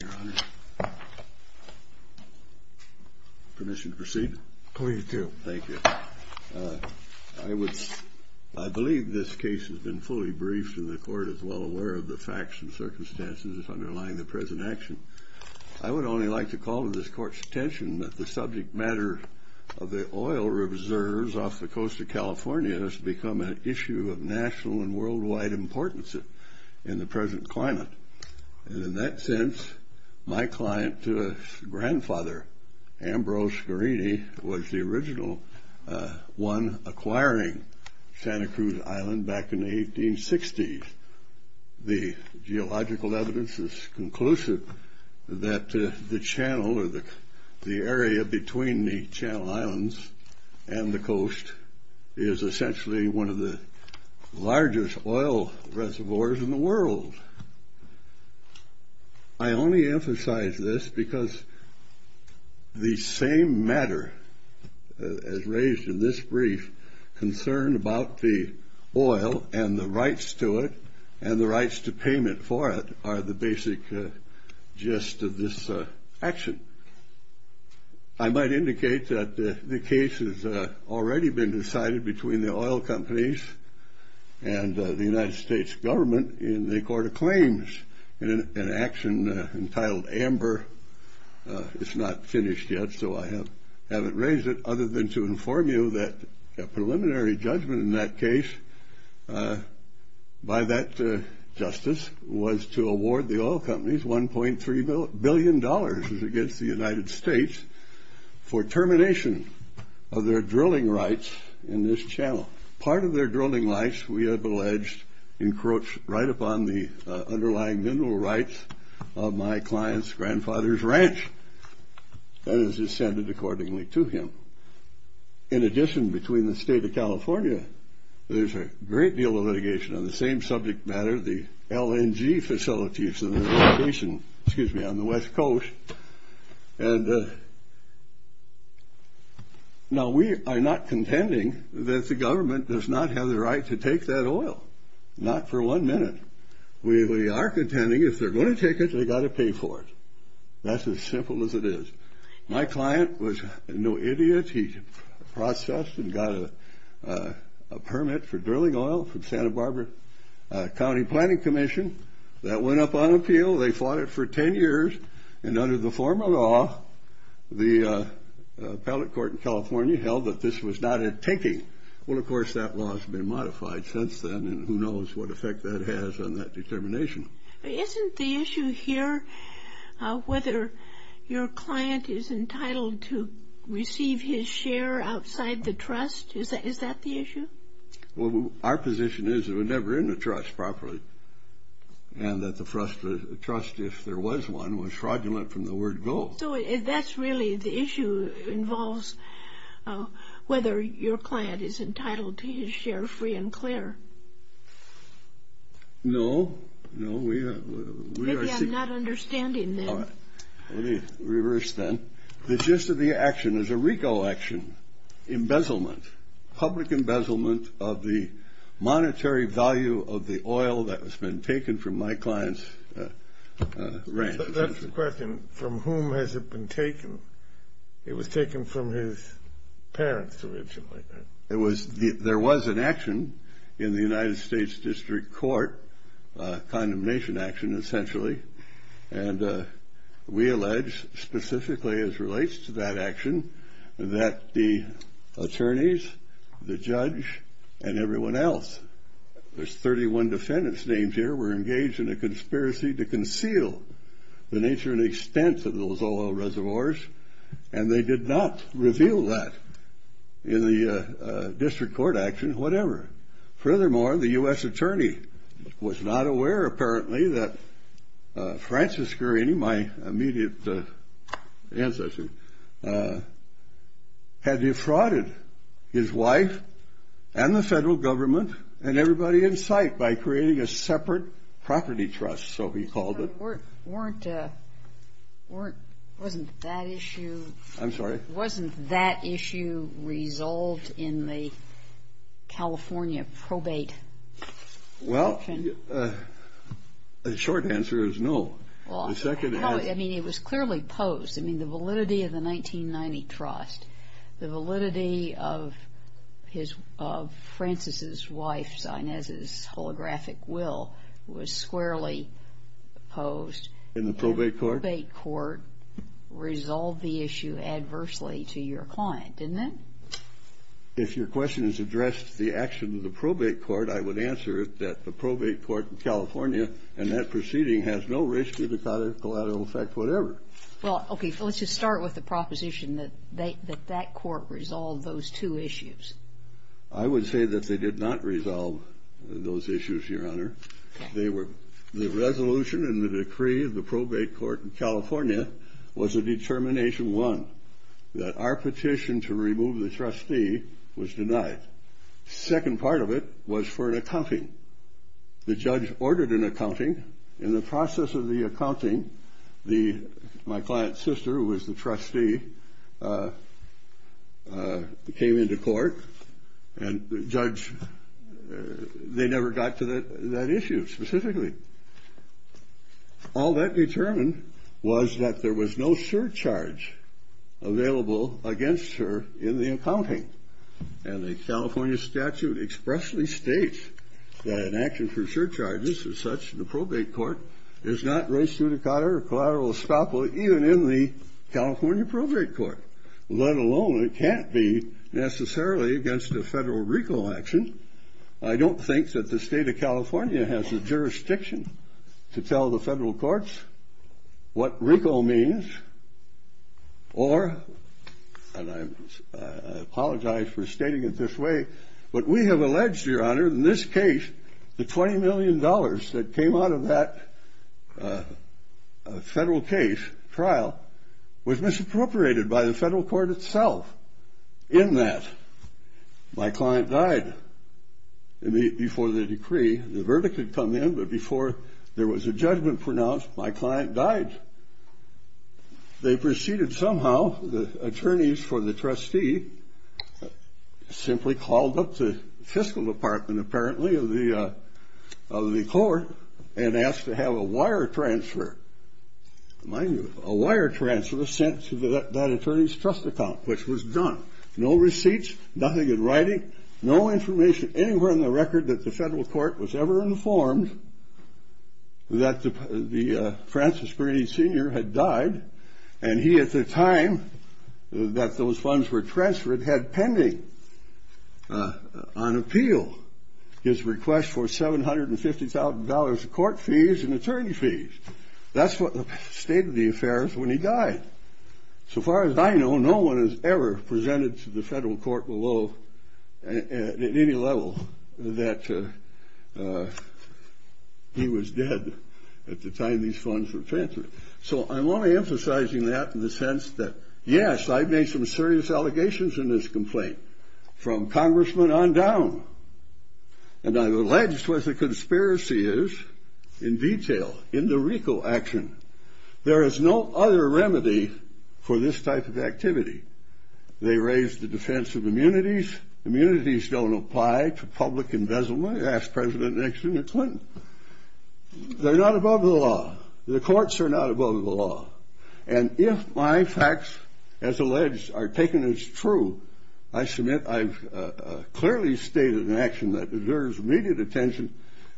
I believe this case has been fully briefed and the Court is well aware of the facts and circumstances underlying the present action. I would only like to call to this Court's attention that the subject matter of the oil reserves off the coast of California has become an issue of national and worldwide importance in the present climate. And in that sense, my client's grandfather, Ambrose Gherini, was the original one acquiring Santa Cruz Island back in the 1860s. The geological evidence is conclusive that the channel or the area between the Channel is essentially one of the largest oil reservoirs in the world. I only emphasize this because the same matter as raised in this brief concern about the oil and the rights to it and the rights to it has been decided between the oil companies and the United States government in the Court of Claims in an action entitled AMBER. It's not finished yet, so I haven't raised it other than to inform you that a preliminary judgment in that case by that justice was to award the oil companies $1.3 million against the United States for termination of their drilling rights in this channel. Part of their drilling rights, we have alleged, encroach right upon the underlying mineral rights of my client's grandfather's ranch that is ascended accordingly to him. In addition, between the state of California, there's a great deal of litigation on the same subject matter, the LNG facilities, excuse me, on the West Coast. And now we are not contending that the government does not have the right to take that oil, not for one minute. We are contending if they're going to take it, they got to pay for it. That's as simple as it is. My client was no idiot. He processed and got a permit for drilling oil from Santa Barbara County Planning Commission. That went up on appeal. They fought it for 10 years. And under the former law, the appellate court in California held that this was not a taking. Well, of course, that law has been modified since then, and who knows what effect that has on that determination. Isn't the issue here whether your client is entitled to receive his share outside the trust? Is that the issue? Well, our position is that we're never in the trust properly. And that the trust, if there was one, was fraudulent from the word go. So that's really the issue involves whether your client is entitled to his share free and clear. No, no, we are not understanding that. Reverse then. The gist of the action is a RICO action, embezzlement, public embezzlement of the monetary value of the oil that has been taken from my client's ranch. That's the question. From whom has it been taken? It was taken from his parents originally. It was, there was an action in the United States District Court, a condemnation action, essentially. And we allege, specifically as relates to that action, that the attorneys, the judge and everyone else, there's 31 defendants names here, were engaged in a conspiracy to conceal the nature and extent of those oil reservoirs. And they did not reveal that in the district court action, whatever. Furthermore, the U.S. attorney was not aware, apparently, that Francis Guarini, my immediate ancestor, had defrauded his wife and the federal government and everybody in sight by creating a separate property trust, so he called it. But weren't, wasn't that issue, I'm sorry, wasn't that issue resolved in the California probate? Well, the short answer is no. Well, I mean, it was clearly posed. I mean, the validity of the 1990 trust, the validity of his, of Francis's wife's, Inez's, holographic will was squarely posed. In the probate court? The probate court resolved the issue adversely to your client, didn't it? If your question is addressed to the action of the probate court, I would answer it that the probate court in California and that proceeding has no risk to the collateral effect, whatever. Well, okay. So let's just start with the proposition that they, that that court resolved those two issues. I would say that they did not resolve those issues, Your Honor. They were, the resolution and the decree of the probate court in California was a determination one, that our petition to remove the trustee was denied. Second part of it was for an accounting. The judge ordered an accounting. In the process of the accounting, the, my client's sister, who was the trustee, came into court and the judge, they never got to that issue specifically. All that determined was that there was no surcharge available against her in the accounting. And the California statute expressly states that an action for surcharges as such in the probate court is not race judicata or collateral estoppel even in the California probate court, let alone it can't be necessarily against a federal RICO action. I don't think that the state of California has a jurisdiction to tell the federal courts what RICO means or, and I'm, I apologize for stating it this way, but we have alleged, Your Honor, in this case, the $20 million that came out of that federal case, trial, was misappropriated by the federal court itself. In that, my client died. And before the decree, the verdict had come in, but before there was a judgment pronounced, my client died. And they proceeded somehow, the attorneys for the trustee simply called up the fiscal department, apparently, of the, of the court and asked to have a wire transfer. Mind you, a wire transfer was sent to that attorney's trust account, which was done. No receipts, nothing in writing, no information anywhere in the record that the federal court was ever informed that the Francis Brady Sr. had died, and he, at the time that those funds were transferred, had pending on appeal his request for $750,000 of court fees and attorney fees. That's what the state of the affair is when he died. So far as I know, no one has ever presented to the federal court below, at any level, that he was dead at the time these funds were transferred. So I'm only emphasizing that in the sense that, yes, I've made some serious allegations in this complaint, from congressman on down. And I've alleged what the conspiracy is in detail, in the RICO action. There is no other remedy for this type of activity. They raise the defense of immunities. Immunities don't apply to public embezzlement, asked President Nixon and Clinton. They're not above the law. The courts are not above the law. And if my facts, as alleged, are taken as true, I submit I've clearly stated an action that deserves immediate attention.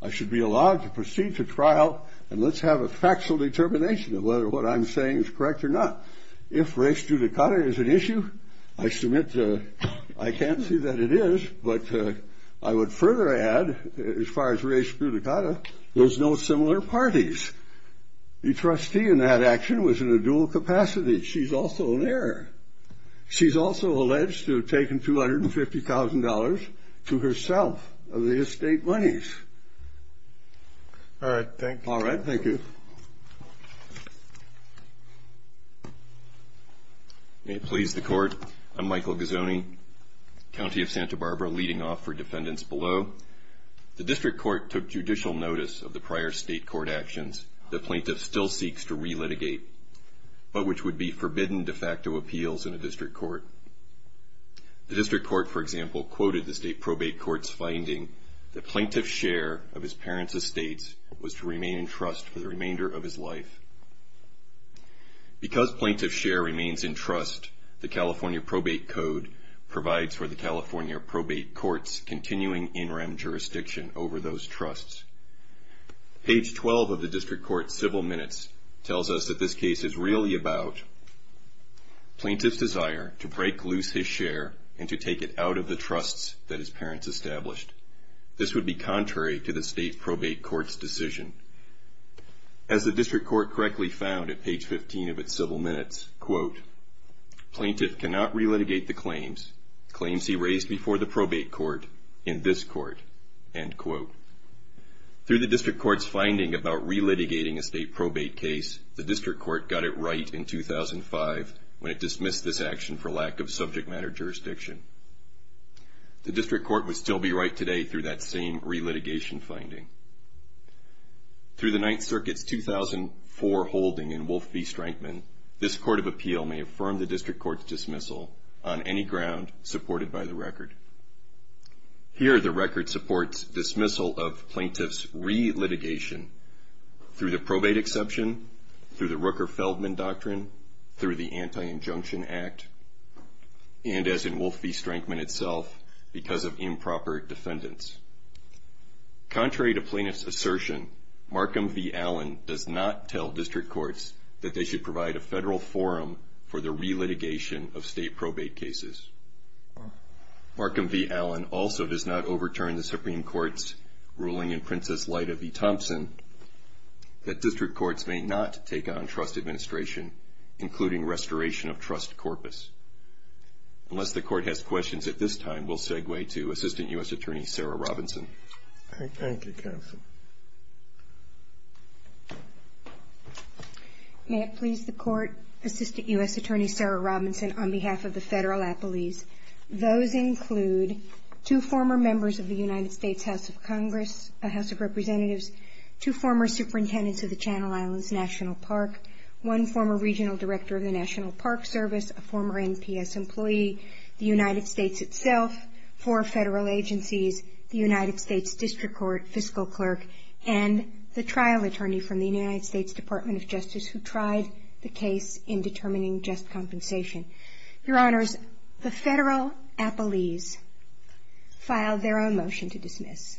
I should be allowed to proceed to trial, and let's have a factual determination of whether what I'm saying is correct or not. If race judicata is an issue, I submit I can't see that it is. But I would further add, as far as race judicata, there's no similar parties. The trustee in that action was in a dual capacity. She's also an heir. She's also alleged to have taken $250,000 to herself of the estate monies. All right. Thank you. All right. Thank you. May it please the Court, I'm Michael Gazzone, County of Santa Barbara, leading off for defendants below. The district court took judicial notice of the prior state court actions the plaintiff still seeks to re-litigate, but which would be forbidden de facto appeals in a district court. The district court, for example, quoted the state probate court's finding that plaintiff's share of his parents' estates was to remain in trust for the remainder of his life. Because plaintiff's share remains in trust, the California Probate Code provides for the California probate court's continuing in rem jurisdiction over those trusts. Page 12 of the district court's civil minutes tells us that this case is really about Plaintiff's desire to break loose his share and to take it out of the trusts that his parents established. This would be contrary to the state probate court's decision. As the district court correctly found at page 15 of its civil minutes, quote, Plaintiff cannot re-litigate the claims, claims he raised before the probate court, in this court, end quote. Through the district court's finding about re-litigating a state probate case, the district court got it right in 2005 when it dismissed this action for lack of subject matter jurisdiction. The district court would still be right today through that same re-litigation finding. Through the Ninth Circuit's 2004 holding in Wolf v. Strankman, this court of appeal may affirm the district court's dismissal on any ground supported by the record. Here the record supports dismissal of Plaintiff's re-litigation through the probate exception, through the Rooker-Feldman Doctrine, through the Anti-Injunction Act, and as in Wolf v. Strankman itself, because of improper defendants. Contrary to Plaintiff's assertion, Markham v. Allen does not tell district courts that they should provide a federal forum for the re-litigation of state probate cases. Markham v. Allen also does not overturn the Supreme Court's ruling in Princess Lita v. Thompson that district courts may not take on trust administration, including restoration of trust corpus. Unless the court has questions at this time, we'll segue to Assistant U.S. Attorney Sarah Robinson. Thank you, counsel. May it please the court, Assistant U.S. Attorney Sarah Robinson, on behalf of the federal appellees. Those include two former members of the United States House of Congress, House of Representatives, two former superintendents of the Channel Islands National Park, one former regional director of the National Park Service, a former NPS employee, the United States itself, four federal agencies, the United States District Court, a former fiscal clerk, and the trial attorney from the United States Department of Justice who tried the case in determining just compensation. Your Honors, the federal appellees filed their own motion to dismiss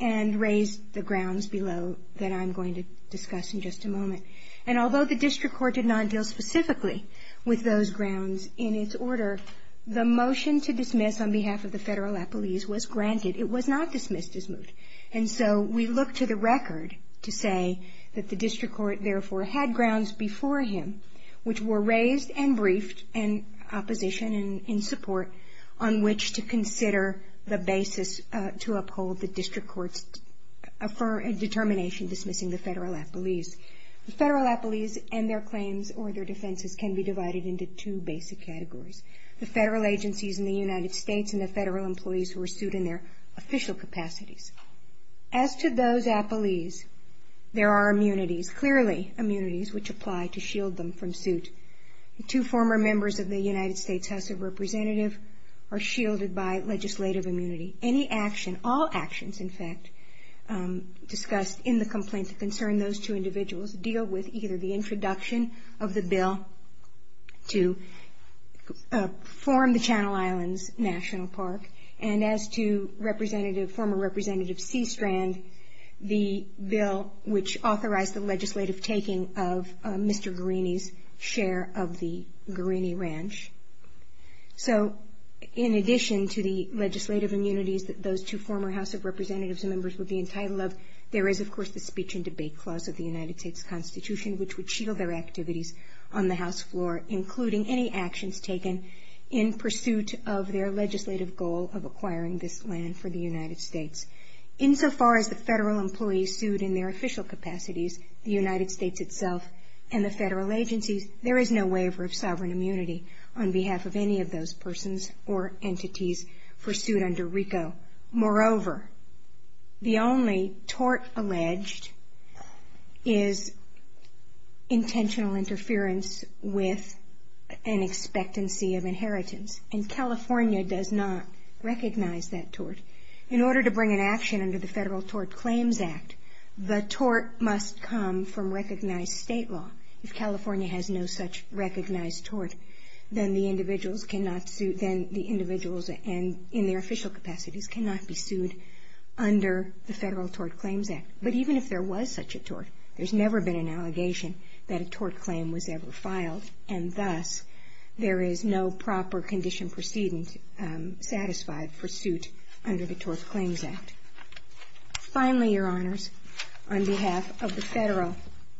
and raised the grounds below that I'm going to discuss in just a moment. And although the district court did not deal specifically with those grounds in its order, the motion to dismiss on behalf of the federal appellees was granted. It was not dismissed as moved. And so we look to the record to say that the district court therefore had grounds before him which were raised and briefed in opposition and in support on which to consider the basis to uphold the district court's determination dismissing the federal appellees. The federal appellees and their claims or their defenses can be divided into two basic categories. The federal agencies in the United States and the federal employees who are sued in their official capacities. As to those appellees, there are immunities, clearly immunities, which apply to shield them from suit. Two former members of the United States House of Representatives are shielded by legislative immunity. Any action, all actions in fact, discussed in the complaint that concern those two individuals deal with either the introduction of the bill to form the Channel Islands National Park and as to Representative, former Representative Seastrand, the bill which authorized the legislative taking of Mr. Guarini's share of the Guarini Ranch. So in addition to the legislative immunities that those two former House of Representatives members would be entitled of, there is of course the speech and debate clause of the United States Constitution which would shield their activities on the House floor including any actions taken in pursuit of their legislative goal of acquiring this land for the United States. Insofar as the federal employees sued in their official capacities, the United States itself and the federal agencies, there is no waiver of sovereign immunity on behalf of any of those persons or entities pursued under RICO. Moreover, the only tort alleged is intentional interference with an expectancy of inheritance and California does not recognize that tort. In order to bring an action under the Federal Tort Claims Act, the tort must come from recognized state law. If California has no such recognized tort, then the individuals cannot sue, then the individuals in their official capacities cannot be sued under the Federal Tort Claims Act. But even if there was such a tort, there's never been an allegation that a tort claim was ever filed and thus there is no proper condition proceeding satisfied for suit under the Tort Claims Act. Finally, Your Honors, on behalf of the federal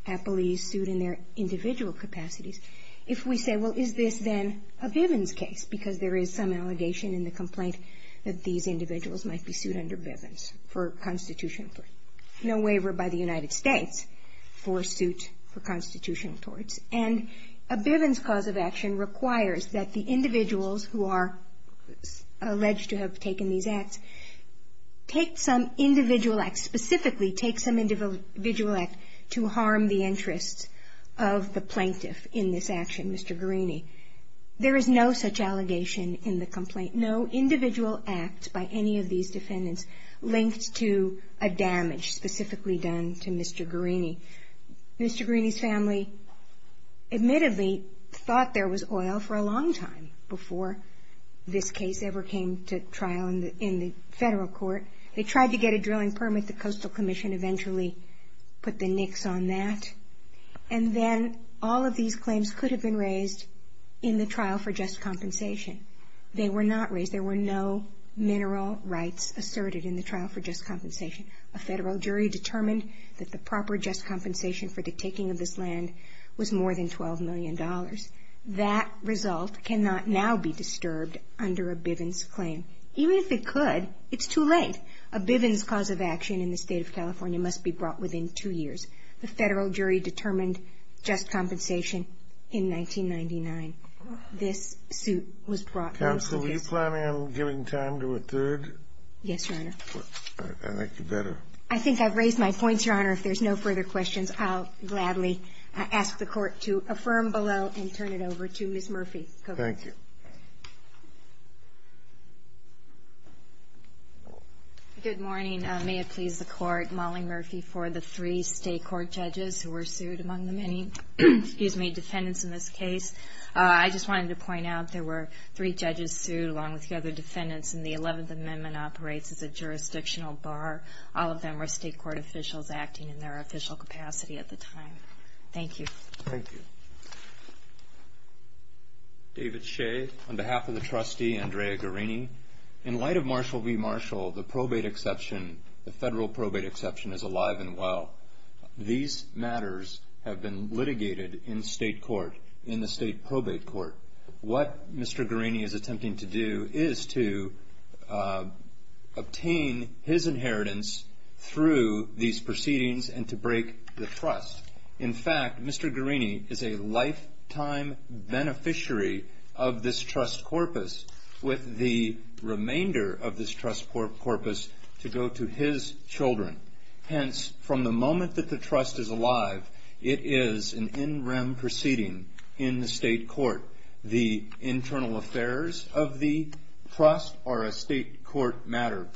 employees sued in their individual capacities, if we say, well, is this then a Bivens case, because there is some allegation in the complaint that these individuals might be sued under Bivens for constitutional tort. No waiver by the United States for suit for constitutional torts. And a Bivens cause of action requires that the individuals who are alleged to have taken these acts take some individual act, specifically take some individual act to harm the interests of the plaintiff in this action, Mr. Guarini. There is no such allegation in the complaint. No individual act by any of these defendants linked to a damage specifically done to Mr. Guarini. Mr. Guarini's family admittedly thought there was oil for a long time before this case ever came to trial in the federal court. They tried to get a drilling permit. The Coastal Commission eventually put the nicks on that. And then all of these claims could have been raised in the trial for just compensation. They were not raised. There were no mineral rights asserted in the trial for just compensation. A federal jury determined that the proper just compensation for the taking of this land was more than $12 million. That result cannot now be disturbed under a Bivens claim. Even if it could, it's too late. A Bivens cause of action in the State of California must be brought within two years. The federal jury determined just compensation in 1999. This suit was brought down. Counsel, are you planning on giving time to a third? Yes, Your Honor. I think you better. I think I've raised my points, Your Honor. If there's no further questions, I'll gladly ask the Court to affirm below and turn it over to Ms. Murphy. Thank you. Good morning. May it please the Court, Molly Murphy, for the three state court judges who were sued, among the many defendants in this case. I just wanted to point out there were three judges sued, along with the other defendants, and the Eleventh Amendment operates as a jurisdictional bar. All of them were state court officials acting in their official capacity at the time. Thank you. Thank you. David Shea, on behalf of the trustee, Andrea Guerini. In light of Marshall v. Marshall, the probate exception, the federal probate exception, is alive and well. These matters have been litigated in state court, in the state probate court. What Mr. Guerini is attempting to do is to obtain his inheritance through these proceedings and to break the trust. In fact, Mr. Guerini is a lifetime beneficiary of this trust corpus with the remainder of this trust corpus to go to his children. Hence, from the moment that the trust is alive, it is an in rem proceeding in the state court. The internal affairs of the trust are a state court matter.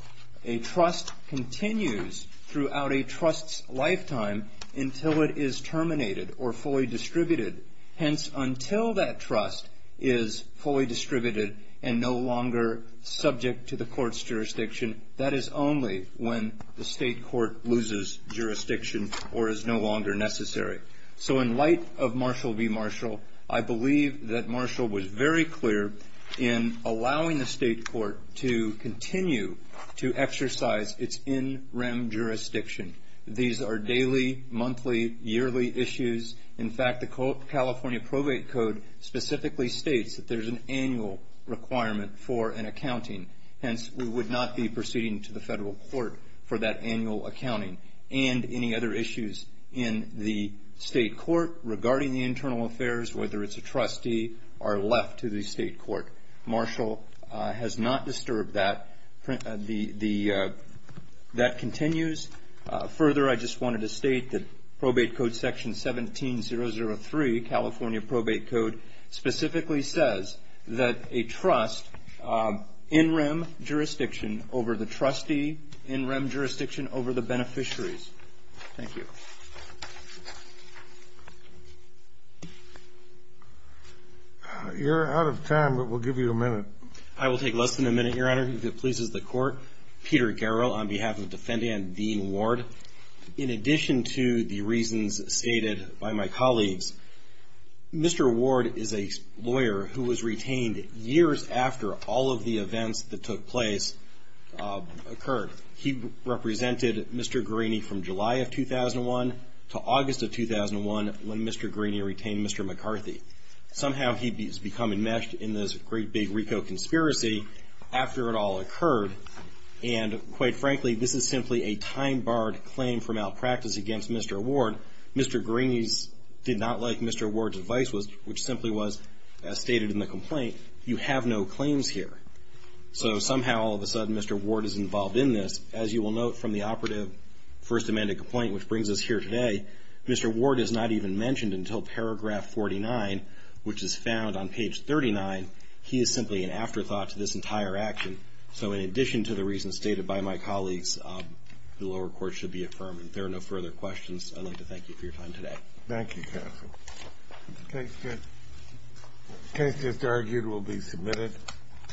A trust continues throughout a trust's lifetime until it is terminated or fully distributed. Hence, until that trust is fully distributed and no longer subject to the court's jurisdiction, that is only when the state court loses jurisdiction or is no longer necessary. So in light of Marshall v. Marshall, I believe that Marshall was very clear in allowing the state court to continue to exercise its in rem jurisdiction. These are daily, monthly, yearly issues. In fact, the California Probate Code specifically states that there's an annual requirement for an accounting. Hence, we would not be proceeding to the federal court for that annual accounting. And any other issues in the state court regarding the internal affairs, whether it's a trustee or left to the state court, Marshall has not disturbed that. That continues. Further, I just wanted to state that Probate Code Section 17-003, California Probate Code, specifically says that a trust in rem jurisdiction over the trustee, in rem jurisdiction over the beneficiaries. Thank you. You're out of time, but we'll give you a minute. I will take less than a minute, Your Honor, if it pleases the Court. Peter Garrow on behalf of Defendant Dean Ward. In addition to the reasons stated by my colleagues, Mr. Ward is a lawyer who was retained years after all of the events that took place occurred. He represented Mr. Greeney from July of 2001 to August of 2001 when Mr. Greeney retained Mr. McCarthy. Somehow, he's become enmeshed in this great big RICO conspiracy after it all occurred. And quite frankly, this is simply a time-barred claim from malpractice against Mr. Ward. Mr. Greeney did not like Mr. Ward's advice, which simply was, as stated in the complaint, you have no claims here. So somehow, all of a sudden, Mr. Ward is involved in this. As you will note from the operative first amended complaint, which brings us here today, Mr. Ward is not even mentioned until paragraph 49, which is found on page 39. He is simply an afterthought to this entire action. So in addition to the reasons stated by my colleagues, the lower court should be affirmed. If there are no further questions, I'd like to thank you for your time today. Thank you, counsel. The case that's argued will be submitted.